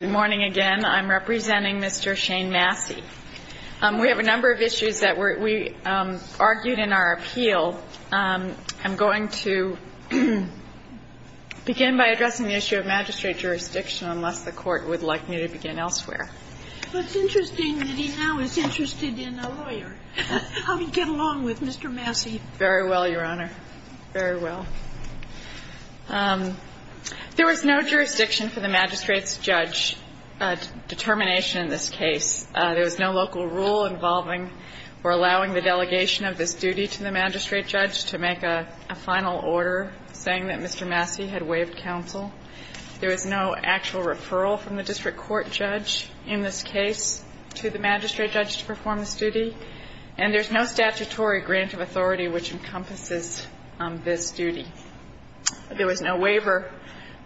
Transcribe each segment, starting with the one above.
Good morning again. I'm representing Mr. Shane Massey. We have a number of issues that we argued in our appeal. I'm going to begin by addressing the issue of magistrate jurisdiction unless the court would like me to begin elsewhere. It's interesting that he now is interested in a lawyer. How did he get along with Mr. Massey? Very well, Your Honor. Very well. There was no jurisdiction for the magistrate's judge determination in this case. There was no local rule involving or allowing the delegation of this duty to the magistrate judge to make a final order saying that Mr. Massey had waived counsel. There was no actual referral from the district court judge in this case to the magistrate judge to perform this duty. And there's no statutory grant of authority which encompasses this duty. There was no waiver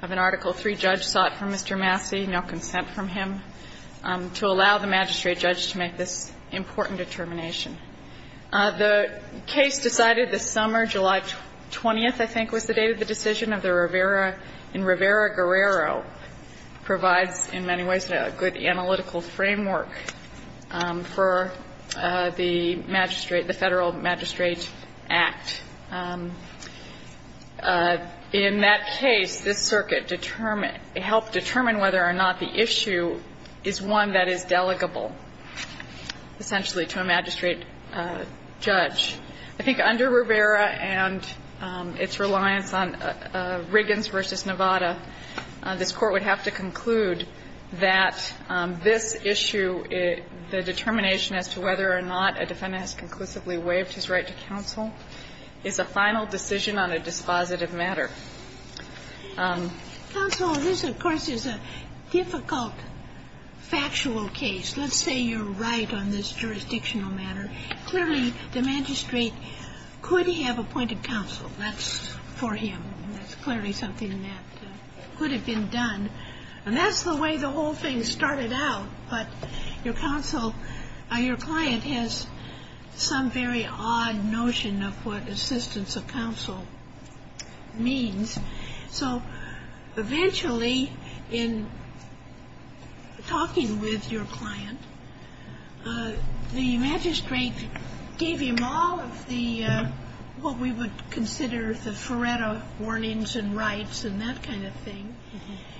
of an Article III judge sought from Mr. Massey, no consent from him to allow the magistrate judge to make this important determination. The case decided this summer, July 20th, I think was the date of the decision of the Rivera. And Rivera-Guerrero provides in many ways a good analytical framework for the magistrate, the Federal Magistrate Act. And in that case, this circuit determined or helped determine whether or not the issue is one that is delegable essentially to a magistrate judge. I think under Rivera and its reliance on Riggins v. Nevada, this Court would have to conclude that this issue, the determination as to whether or not a defendant has conclusively waived his right to counsel is a final decision on a dispositive matter. Counsel, this, of course, is a difficult factual case. Let's say you're right on this jurisdictional matter. Clearly, the magistrate could have appointed counsel. That's for him. That's clearly something that could have been done. And that's the way the whole thing started out. But your counsel, your client has some very odd notion of what assistance of counsel means. So eventually, in talking with your client, the magistrate gave him all of the what we would consider the Feretta warnings and rights and that kind of thing,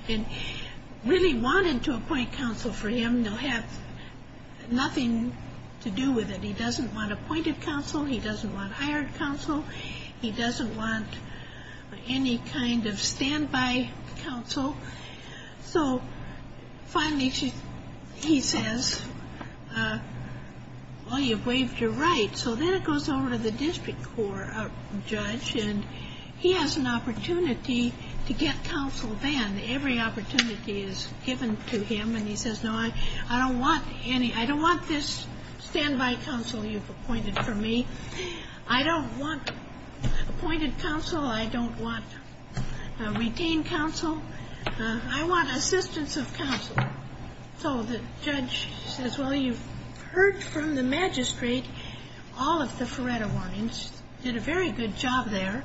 and really wanted to appoint counsel for him. They'll have nothing to do with it. He doesn't want appointed counsel. He doesn't want hired counsel. He doesn't want any kind of standby counsel. So finally, he says, well, you've waived your right. So then it goes over to the district court judge, and he has an opportunity to get counsel then. Every opportunity is given to him. And he says, no, I don't want this standby counsel you've appointed for me. I don't want appointed counsel. I don't want retained counsel. I want assistance of counsel. So the judge says, well, you've heard from the magistrate all of the Feretta warnings, did a very good job there.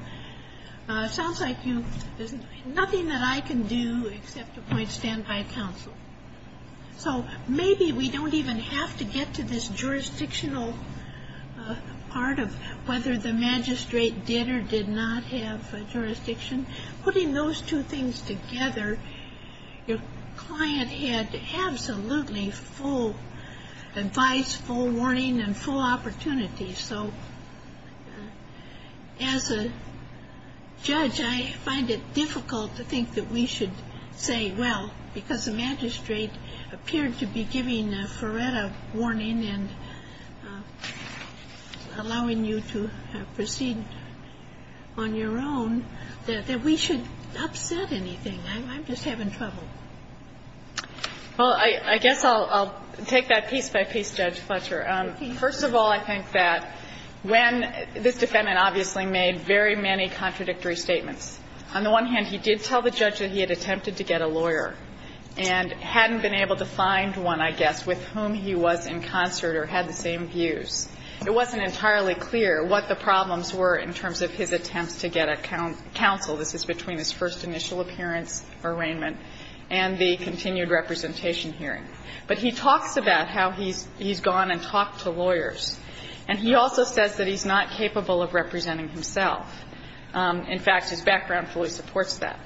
Sounds like there's nothing that I can do except appoint standby counsel. So maybe we don't even have to get to this jurisdictional part of whether the magistrate did or did not have jurisdiction. Putting those two things together, your client had absolutely full advice, full warning, and full opportunity. So as a judge, I find it difficult to think that we should say, well, because the magistrate appeared to be giving a Feretta warning and allowing you to proceed on your own, that we should upset anything. I'm just having trouble. Well, I guess I'll take that piece by piece, Judge Fletcher. First of all, I think that when this defendant obviously made very many contradictory statements, on the one hand, he did tell the judge that he had attempted to get a lawyer and hadn't been able to find one, I guess, with whom he was in concert or had the same views. It wasn't entirely clear what the problems were in terms of his attempts to get a counsel. This is between his first initial appearance, arraignment, and the continued representation hearing. But he talks about how he's gone and talked to lawyers. And he also says that he's not capable of representing himself. In fact, his background fully supports that.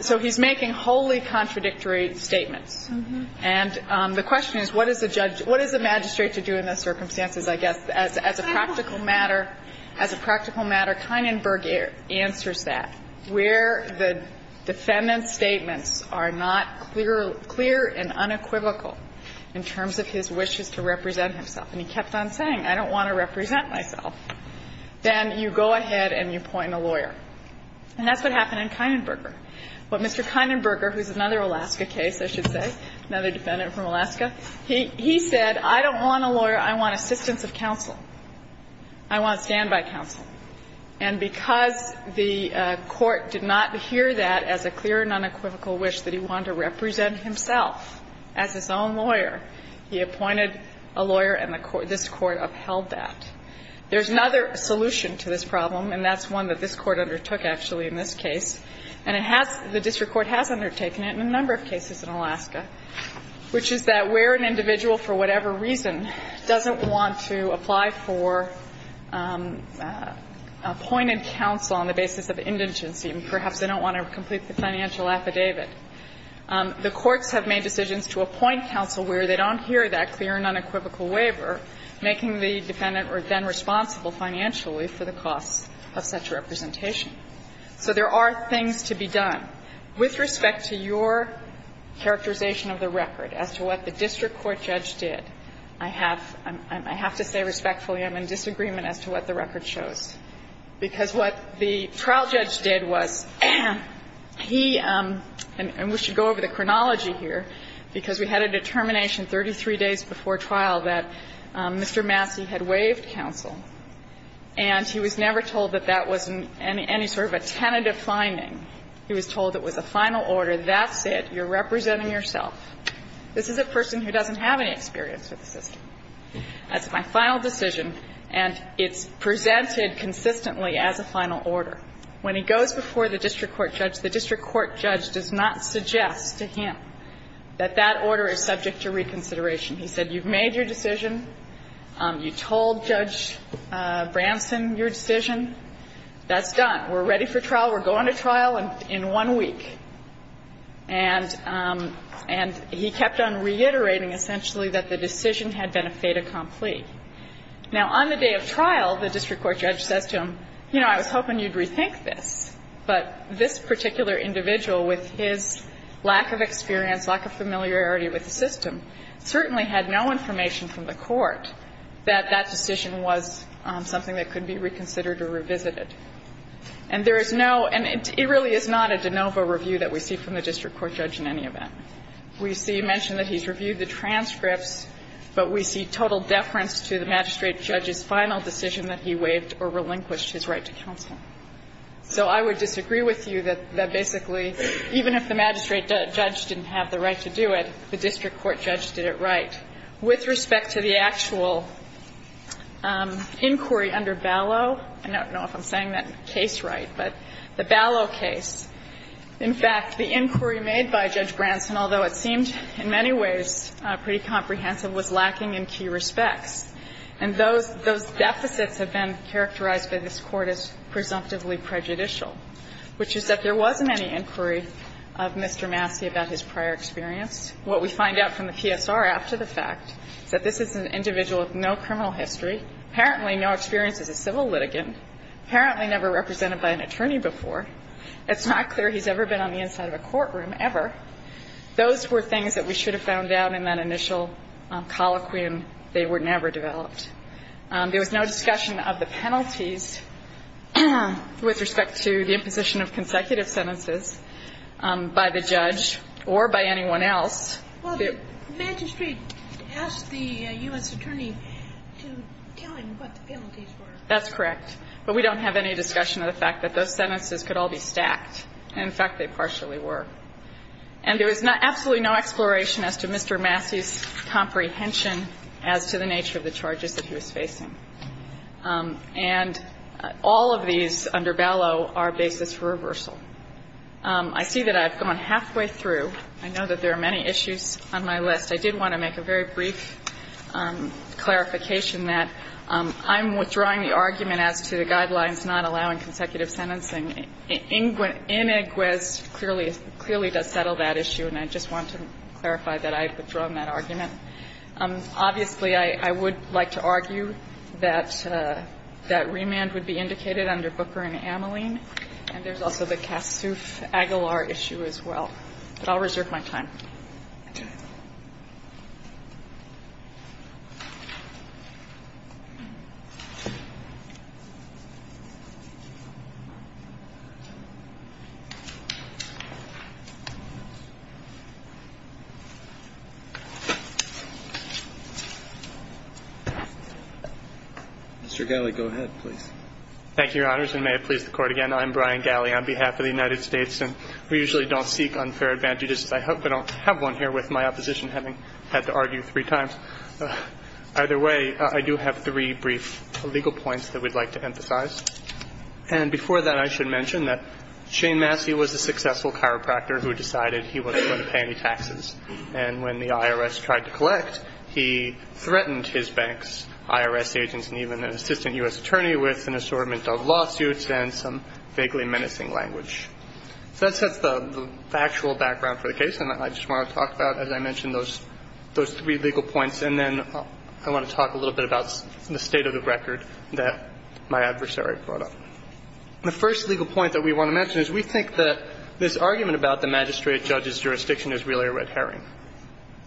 So he's making wholly contradictory statements. And the question is, what does the magistrate have to do in those circumstances, I guess, as a practical matter? As a practical matter, Kienenberger answers that. Where the defendant's statements are not clear and unequivocal in terms of his wishes to represent himself, and he kept on saying, I don't want to represent myself, then you go ahead and you appoint a lawyer. And that's what happened in Kienenberger. But Mr. Kienenberger, who's another Alaska case, I should say, another defendant from Alaska, he said, I don't want a lawyer. I want assistance of counsel. I want standby counsel. And because the Court did not hear that as a clear and unequivocal wish that he wanted to represent himself as his own lawyer, he appointed a lawyer, and this Court upheld that. There's another solution to this problem, and that's one that this Court undertook, actually, in this case. And it has the district court has undertaken it in a number of cases in Alaska, which is that where an individual, for whatever reason, doesn't want to apply for appointed counsel on the basis of indigency, and perhaps they don't want to complete the financial affidavit, the courts have made decisions to appoint counsel where they don't hear that clear and unequivocal waiver, making the defendant then responsible financially for the cost of such representation. So there are things to be done. With respect to your characterization of the record as to what the district court judge did, I have to say respectfully I'm in disagreement as to what the record shows, because what the trial judge did was he – and we should go over the chronology here, because we had a determination 33 days before trial that Mr. Massey had waived his appointed counsel, and he was never told that that was any sort of a tentative finding. He was told it was a final order, that's it, you're representing yourself. This is a person who doesn't have any experience with the system. That's my final decision, and it's presented consistently as a final order. When he goes before the district court judge, the district court judge does not suggest to him that that order is subject to reconsideration. He said, you've made your decision. You told Judge Branson your decision. That's done. We're ready for trial. We're going to trial in one week. And he kept on reiterating essentially that the decision had been a fait accompli. Now, on the day of trial, the district court judge says to him, you know, I was hoping you'd rethink this, but this particular individual with his lack of experience, lack of familiarity with the system, certainly had no information from the court that that decision was something that could be reconsidered or revisited. And there is no – and it really is not a de novo review that we see from the district court judge in any event. We see mention that he's reviewed the transcripts, but we see total deference to the magistrate judge's final decision that he waived or relinquished his right to counsel. So I would disagree with you that basically even if the magistrate judge didn't have the right to do it, the district court judge did it right. With respect to the actual inquiry under Ballot, I don't know if I'm saying that case right, but the Ballot case, in fact, the inquiry made by Judge Branson, although it seemed in many ways pretty comprehensive, was lacking in key respects. And those deficits have been characterized by this Court as presumptively prejudicial, which is that there wasn't any inquiry of Mr. Massey about his prior experience. What we find out from the PSR after the fact is that this is an individual with no criminal history, apparently no experience as a civil litigant, apparently never represented by an attorney before. It's not clear he's ever been on the inside of a courtroom, ever. Those were things that we should have found out in that initial colloquium. They were never developed. There was no discussion of the penalties with respect to the imposition of consecutive sentences by the judge or by anyone else. Well, the magistrate asked the U.S. attorney to tell him what the penalties were. That's correct. But we don't have any discussion of the fact that those sentences could all be stacked. In fact, they partially were. And there was absolutely no exploration as to Mr. Massey's comprehension as to the nature of the charges that he was facing. And all of these under Bellow are basis for reversal. I see that I've gone halfway through. I know that there are many issues on my list. I did want to make a very brief clarification that I'm withdrawing the argument as to the guidelines not allowing consecutive sentencing. Iniquiz clearly does settle that issue, and I just want to clarify that I've withdrawn that argument. Obviously, I would like to argue that that remand would be indicated under Booker and Ameline. And there's also the Kassoof-Aguilar issue as well. But I'll reserve my time. Mr. Galley, go ahead, please. Thank you, Your Honors. And may it please the Court again, I'm Brian Galley on behalf of the United States. And we usually don't seek unfair advantage. I have one here with my opposition having had to argue three times. Either way, I do have three brief legal points that we'd like to emphasize. And before that, I should mention that Shane Massey was a successful chiropractor who decided he wasn't going to pay any taxes. And when the IRS tried to collect, he threatened his bank's IRS agents and even an assistant U.S. attorney with an assortment of lawsuits and some vaguely menacing language. So that sets the actual background for the case. And I just want to talk about, as I mentioned, those three legal points. And then I want to talk a little bit about the state of the record that my adversary brought up. The first legal point that we want to mention is we think that this argument about the magistrate judge's jurisdiction is really a red herring.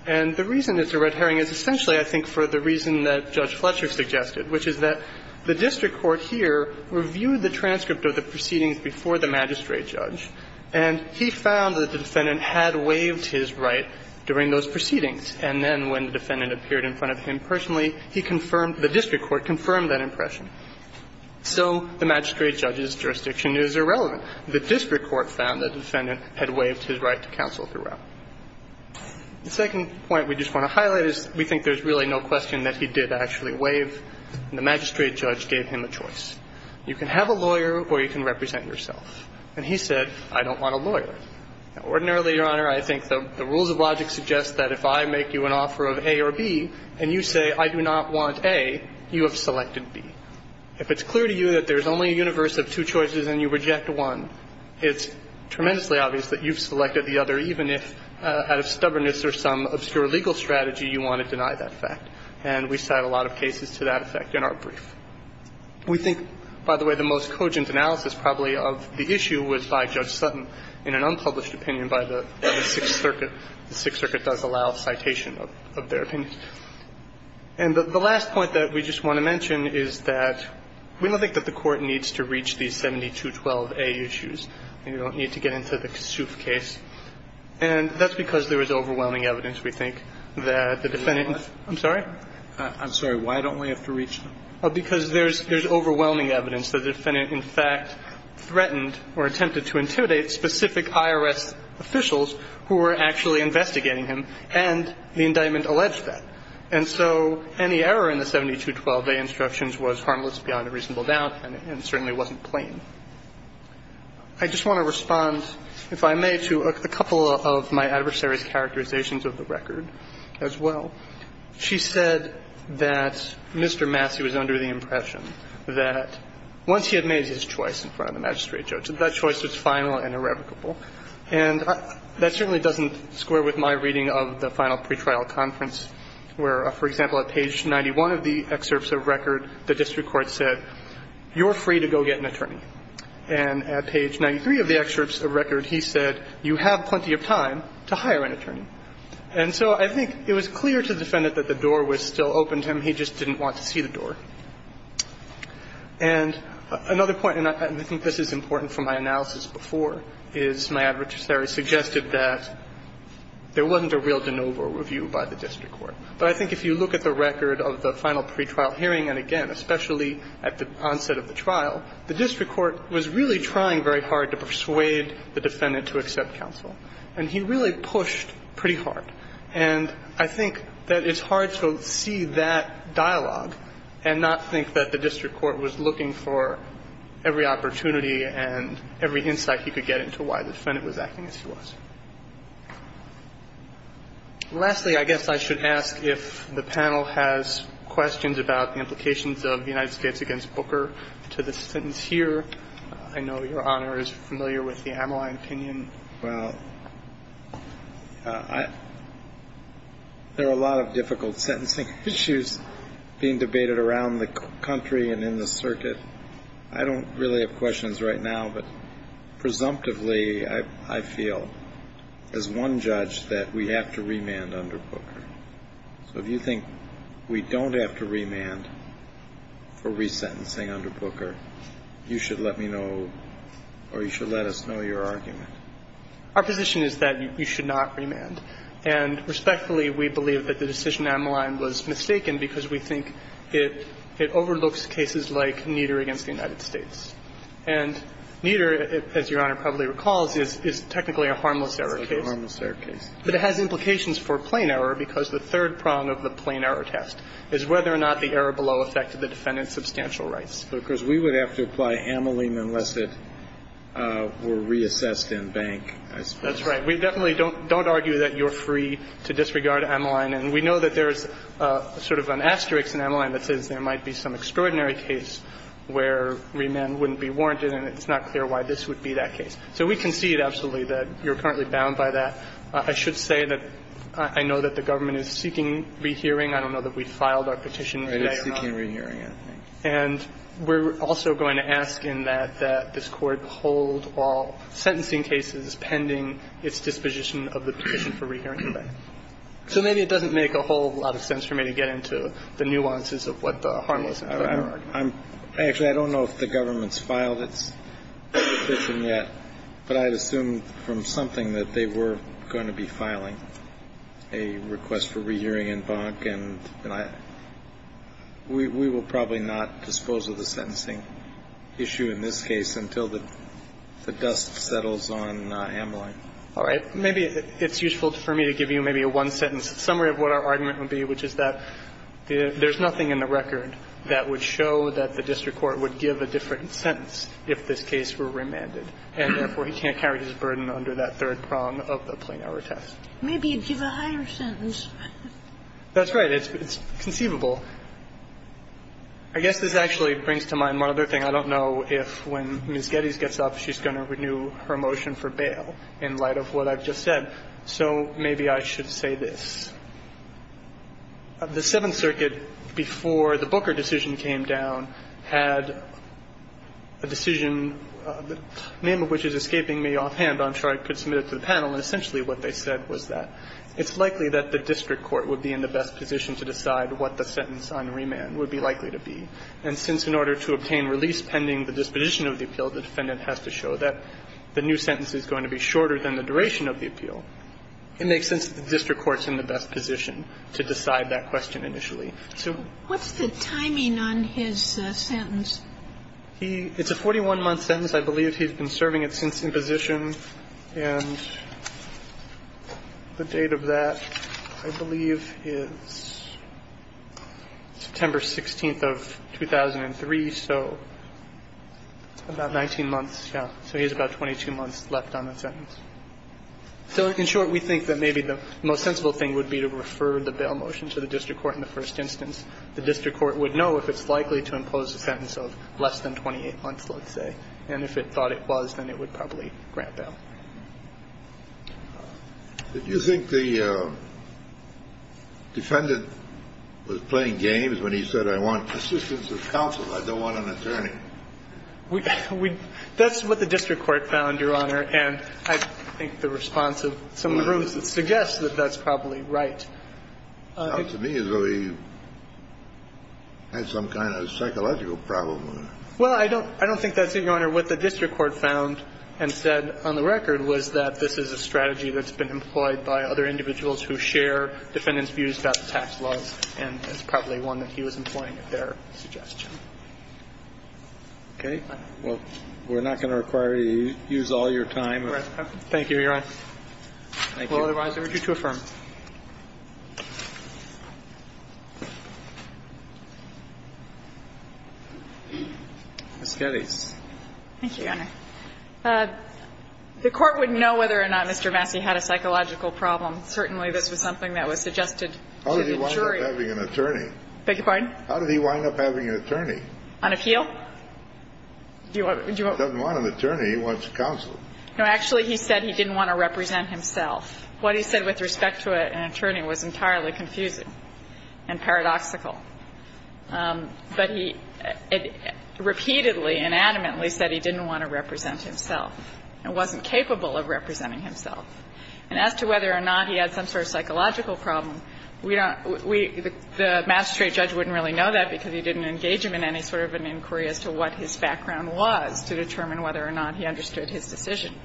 And the reason it's a red herring is essentially, I think, for the reason that Judge Fletcher suggested, which is that the district court here reviewed the transcript of the proceedings before the magistrate judge. And he found that the defendant had waived his right during those proceedings. And then when the defendant appeared in front of him personally, he confirmed the district court confirmed that impression. So the magistrate judge's jurisdiction is irrelevant. The district court found that the defendant had waived his right to counsel throughout. The second point we just want to highlight is we think there's really no question that he did actually waive. The magistrate judge gave him a choice. You can have a lawyer or you can represent yourself. And he said, I don't want a lawyer. Now, ordinarily, Your Honor, I think the rules of logic suggest that if I make you an offer of A or B and you say I do not want A, you have selected B. If it's clear to you that there's only a universe of two choices and you reject one, it's tremendously obvious that you've selected the other, even if out of stubbornness or some obscure legal strategy you want to deny that fact. And we cite a lot of cases to that effect in our brief. We think, by the way, the most cogent analysis probably of the issue was by Judge Sutton in an unpublished opinion by the Sixth Circuit. The Sixth Circuit does allow citation of their opinion. And the last point that we just want to mention is that we don't think that the Court needs to reach these 7212A issues. We don't need to get into the Souf case. And that's because there is overwhelming evidence, we think, that the defendant ---- I'm sorry? I'm sorry. Why don't we have to reach them? Because there's overwhelming evidence that the defendant in fact threatened or attempted to intimidate specific IRS officials who were actually investigating him, and the indictment alleged that. And so any error in the 7212A instructions was harmless beyond a reasonable doubt and certainly wasn't plain. I just want to respond, if I may, to a couple of my adversary's characterizations of the record as well. In the case of Judge Sutton, she said that Mr. Massey was under the impression that once he had made his choice in front of the magistrate judge, that choice was final and irrevocable. And that certainly doesn't square with my reading of the final pretrial conference, where, for example, at page 91 of the excerpts of record, the district court said, you're free to go get an attorney. And at page 93 of the excerpts of record, he said, you have plenty of time to hire an attorney. And so I think it was clear to the defendant that the door was still open to him. He just didn't want to see the door. And another point, and I think this is important from my analysis before, is my adversary suggested that there wasn't a real de novo review by the district court. But I think if you look at the record of the final pretrial hearing, and again, especially at the onset of the trial, the district court was really trying very hard to persuade the defendant to accept counsel. And he really pushed pretty hard. And I think that it's hard to see that dialogue and not think that the district court was looking for every opportunity and every insight he could get into why the defendant was acting as he was. Lastly, I guess I should ask if the panel has questions about the implications of the United States against Booker to the sentence here. I know Your Honor is familiar with the Ameline opinion. Well, there are a lot of difficult sentencing issues being debated around the country and in the circuit. I don't really have questions right now. But presumptively, I feel as one judge that we have to remand under Booker. So if you think we don't have to remand for resentencing under Booker, you should let me know or you should let us know your argument. Our position is that you should not remand. And respectfully, we believe that the decision in Ameline was mistaken because we think it overlooks cases like Nieder against the United States. And Nieder, as Your Honor probably recalls, is technically a harmless error case. It's a harmless error case. But it has implications for plain error because the third prong of the plain error test is whether or not the error below affected the defendant's substantial rights. But, of course, we would have to apply Ameline unless it were reassessed in bank, I suppose. That's right. We definitely don't argue that you're free to disregard Ameline. And we know that there's sort of an asterisk in Ameline that says there might be some extraordinary case where remand wouldn't be warranted, and it's not clear why this would be that case. So we concede absolutely that you're currently bound by that. I should say that I know that the government is seeking rehearing. I don't know that we filed our petition today or not. Right. It's seeking rehearing, I think. And we're also going to ask in that that this Court hold all sentencing cases pending its disposition of the petition for rehearing today. So maybe it doesn't make a whole lot of sense for me to get into the nuances of what the harmless and plain error argument is. Actually, I don't know if the government's filed its petition yet, but I'd assume from something that they were going to be filing a request for rehearing in bank, and we will probably not dispose of the sentencing issue in this case until the dust settles on Ameline. All right. Maybe it's useful for me to give you maybe a one-sentence summary of what our argument would be, which is that there's nothing in the record that would show that the district court would give a different sentence if this case were remanded, and therefore he can't carry his burden under that third prong of the plain error test. Maybe you'd give a higher sentence. That's right. It's conceivable. I guess this actually brings to mind one other thing. I don't know if when Ms. Geddes gets up, she's going to renew her motion for bail in light of what I've just said. So maybe I should say this. The Seventh Circuit, before the Booker decision came down, had a decision, the name of which is escaping me offhand, but I'm sure I could submit it to the panel, and essentially what they said was that it's likely that the district court would be in the best position to decide what the sentence on remand would be likely to be, and since in order to obtain release pending the disposition of the appeal, the defendant has to show that the new sentence is going to be shorter than the duration of the appeal, it makes sense that the district court's in the best position to decide that question initially. So what's the timing on his sentence? It's a 41-month sentence. I believe he's been serving it since imposition, and the date of that, I believe, is September 16th of 2003, so about 19 months. So he has about 22 months left on that sentence. So in short, we think that maybe the most sensible thing would be to refer the bail motion to the district court in the first instance. The district court would know if it's likely to impose a sentence of less than 28 months, let's say, and if it thought it was, then it would probably grant bail. Did you think the defendant was playing games when he said, I want assistance of counsel, I don't want an attorney? That's what the district court found, Your Honor, and I think the response of some of the rooms suggests that that's probably right. Sounds to me as though he had some kind of psychological problem. Well, I don't think that's it, Your Honor. What the district court found and said on the record was that this is a strategy that's been employed by other individuals who share defendants' views about the tax laws, and it's probably one that he was employing at their suggestion. Okay. Well, we're not going to require you to use all your time. Thank you, Your Honor. Thank you. Thank you. Ms. Kelley. Thank you, Your Honor. The court would know whether or not Mr. Massey had a psychological problem. Certainly, this was something that was suggested to the jury. How did he wind up having an attorney? Beg your pardon? How did he wind up having an attorney? On appeal? He doesn't want an attorney. He wants counsel. No, actually, he said he didn't want to represent himself. What he said with respect to an attorney was entirely confusing and paradoxical. But he repeatedly and adamantly said he didn't want to represent himself and wasn't capable of representing himself. And as to whether or not he had some sort of psychological problem, we don't we the magistrate judge wouldn't really know that because he didn't engage him in any sort of an inquiry as to what his background was to determine whether or not he understood his decision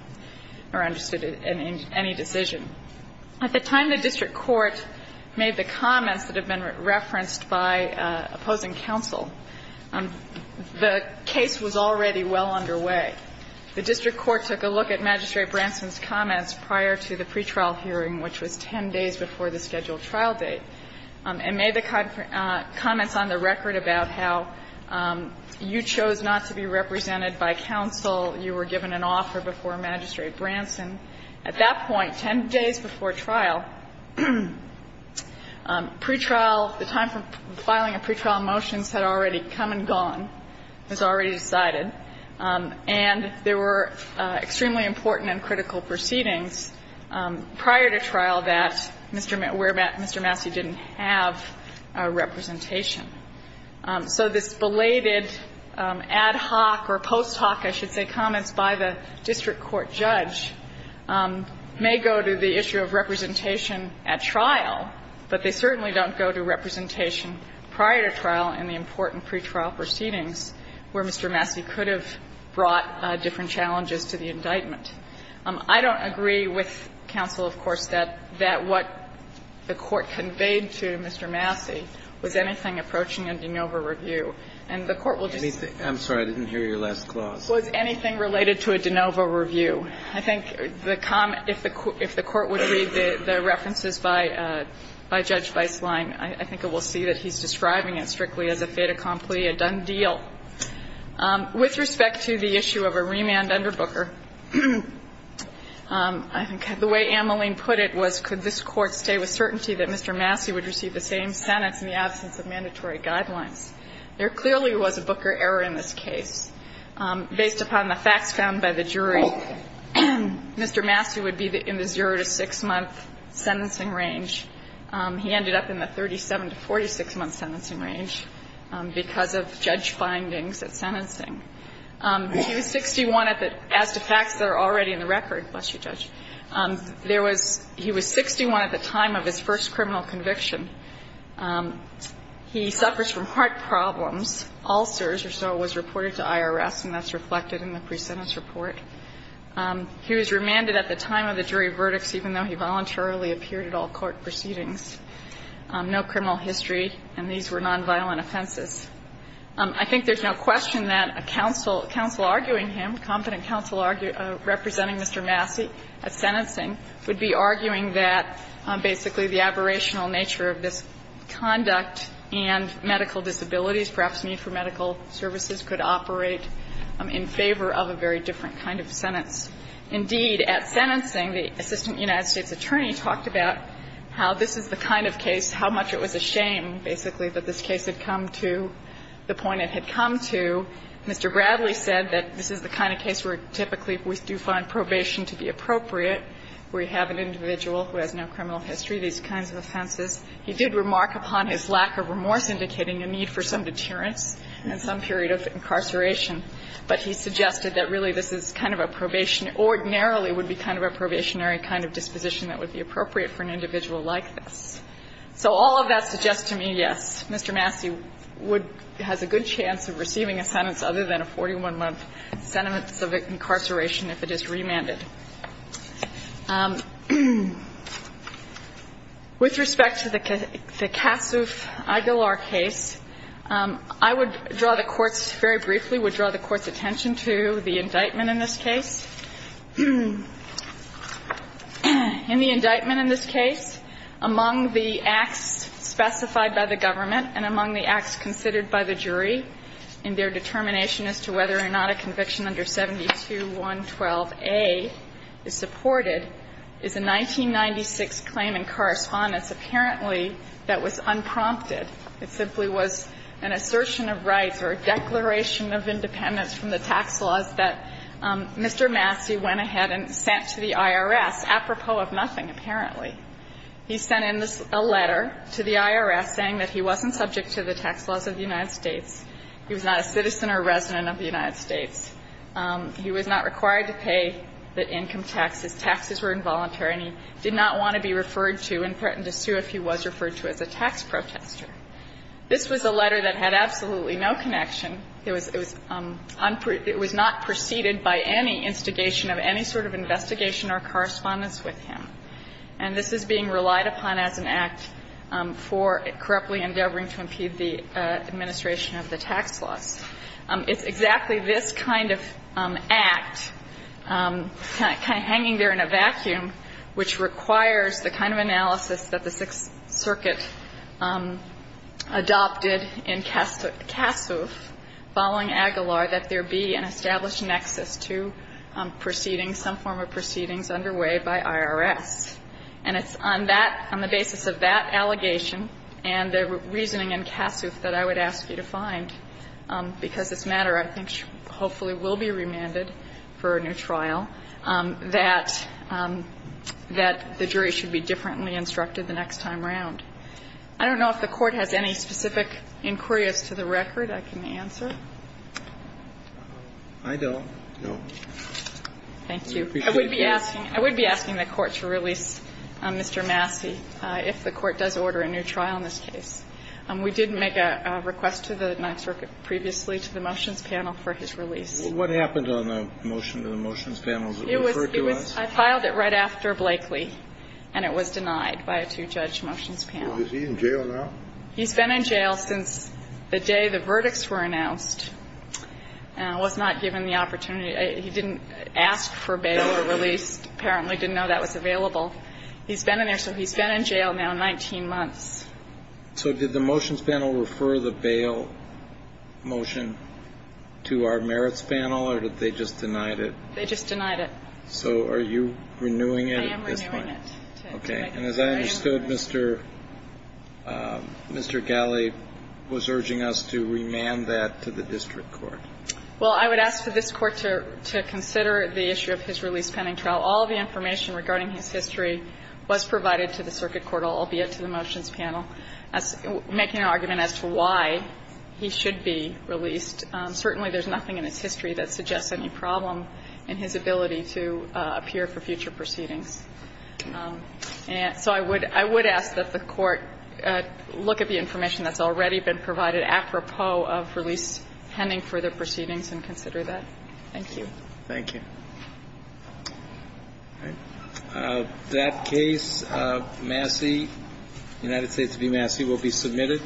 or understood any decision. At the time the district court made the comments that have been referenced by opposing counsel, the case was already well underway. The district court took a look at Magistrate Branson's comments prior to the pretrial hearing, which was 10 days before the scheduled trial date, and made the comments on the record about how you chose not to be represented by counsel, you were given an offer before Magistrate Branson. At that point, 10 days before trial, pretrial, the time for filing a pretrial motion had already come and gone. It was already decided. And there were extremely important and critical proceedings prior to trial that Mr. Massey didn't have a representation. So this belated ad hoc or post hoc, I should say, comments by the district court judge may go to the issue of representation at trial, but they certainly don't go to representation prior to trial in the important pretrial proceedings where Mr. Massey could have brought different challenges to the indictment. I don't agree with counsel, of course, that what the Court conveyed to Mr. Massey was anything approaching a de novo review. And the Court will just say that. Kennedy. I'm sorry, I didn't hear your last clause. Was anything related to a de novo review. I think the comment, if the Court would read the references by Judge Weislein, I think it will see that he's describing it strictly as a fait accompli, a done deal. With respect to the issue of a remand under Booker, I think the way Anne Moline put it was could this Court stay with certainty that Mr. Massey would receive the same sentence in the absence of mandatory guidelines. There clearly was a Booker error in this case. Based upon the facts found by the jury, Mr. Massey would be in the zero to six-month sentencing range. He ended up in the 37 to 46-month sentencing range because of judge findings at sentencing. He was 61 at the time of his first criminal conviction. He suffers from heart problems, ulcers or so was reported to IRS, and that's reflected in the pre-sentence report. He was remanded at the time of the jury verdicts even though he voluntarily appeared at all court proceedings. No criminal history, and these were nonviolent offenses. I think there's no question that a counsel, counsel arguing him, competent counsel representing Mr. Massey at sentencing would be arguing that basically the aberrational nature of this conduct and medical disabilities, perhaps need for medical services, could operate in favor of a very different kind of sentence. Indeed, at sentencing, the assistant United States attorney talked about how this is the kind of case, how much it was a shame, basically, that this case had come to the point it had come to. Mr. Bradley said that this is the kind of case where typically we do find probation to be appropriate, where you have an individual who has no criminal history, these kinds of offenses. He did remark upon his lack of remorse indicating a need for some deterrence and some period of incarceration, but he suggested that really this is kind of a probation ordinarily would be kind of a probationary kind of disposition that would be appropriate for an individual like this. So all of that suggests to me, yes, Mr. Massey would has a good chance of receiving a sentence other than a 41-month sentence of incarceration if it is remanded. With respect to the Kassoff-Aguilar case, I would draw the Court's, very briefly, would draw the Court's attention to the indictment in this case. In the indictment in this case, among the acts specified by the government and among the acts considered by the jury in their determination as to whether or not a conviction under 72112A is supported is a 1996 claim in correspondence apparently that was unprompted. It simply was an assertion of rights or a declaration of independence from the tax laws that Mr. Massey went ahead and sent to the IRS, apropos of nothing, apparently. He sent in a letter to the IRS saying that he wasn't subject to the tax laws of the United States, he was not a citizen or resident of the United States, he was not required to pay the income taxes, taxes were involuntary, and he did not want to be referred to and threatened to sue if he was referred to as a tax protester. This was a letter that had absolutely no connection. It was not preceded by any instigation of any sort of investigation or correspondence with him. And this is being relied upon as an act for corruptly endeavoring to impede the administration of the tax laws. It's exactly this kind of act, kind of hanging there in a vacuum, which requires the kind of analysis that the Sixth Circuit adopted in Cassoof following Aguilar that there be an established nexus to proceedings, some form of proceedings underway by IRS. And it's on that, on the basis of that allegation and the reasoning in Cassoof that I would ask you to find, because this matter I think hopefully will be remanded for a new trial, that the jury should be differently instructed the next time around. I don't know if the Court has any specific inquiries to the record I can answer. I don't, no. Thank you. I would be asking the Court to release Mr. Massey if the Court does order a new trial in this case. We did make a request to the Ninth Circuit previously to the motions panel for his release. What happened on the motion to the motions panel? Was it referred to us? I filed it right after Blakely, and it was denied by a two-judge motions panel. Is he in jail now? He's been in jail since the day the verdicts were announced, was not given the opportunity to, he didn't ask for bail or release, apparently didn't know that was available. He's been in there, so he's been in jail now 19 months. So did the motions panel refer the bail motion to our merits panel, or did they just deny it? They just denied it. So are you renewing it at this point? I am renewing it. Okay. And as I understood, Mr. Galley was urging us to remand that to the district court. Well, I would ask for this Court to consider the issue of his release pending trial. All of the information regarding his history was provided to the circuit court, albeit to the motions panel, making an argument as to why he should be released. Certainly, there's nothing in his history that suggests any problem in his ability to appear for future proceedings. And so I would ask that the Court look at the information that's already been provided apropos of release pending further proceedings and consider that. Thank you. Thank you. That case, Massey, United States v. Massey will be submitted.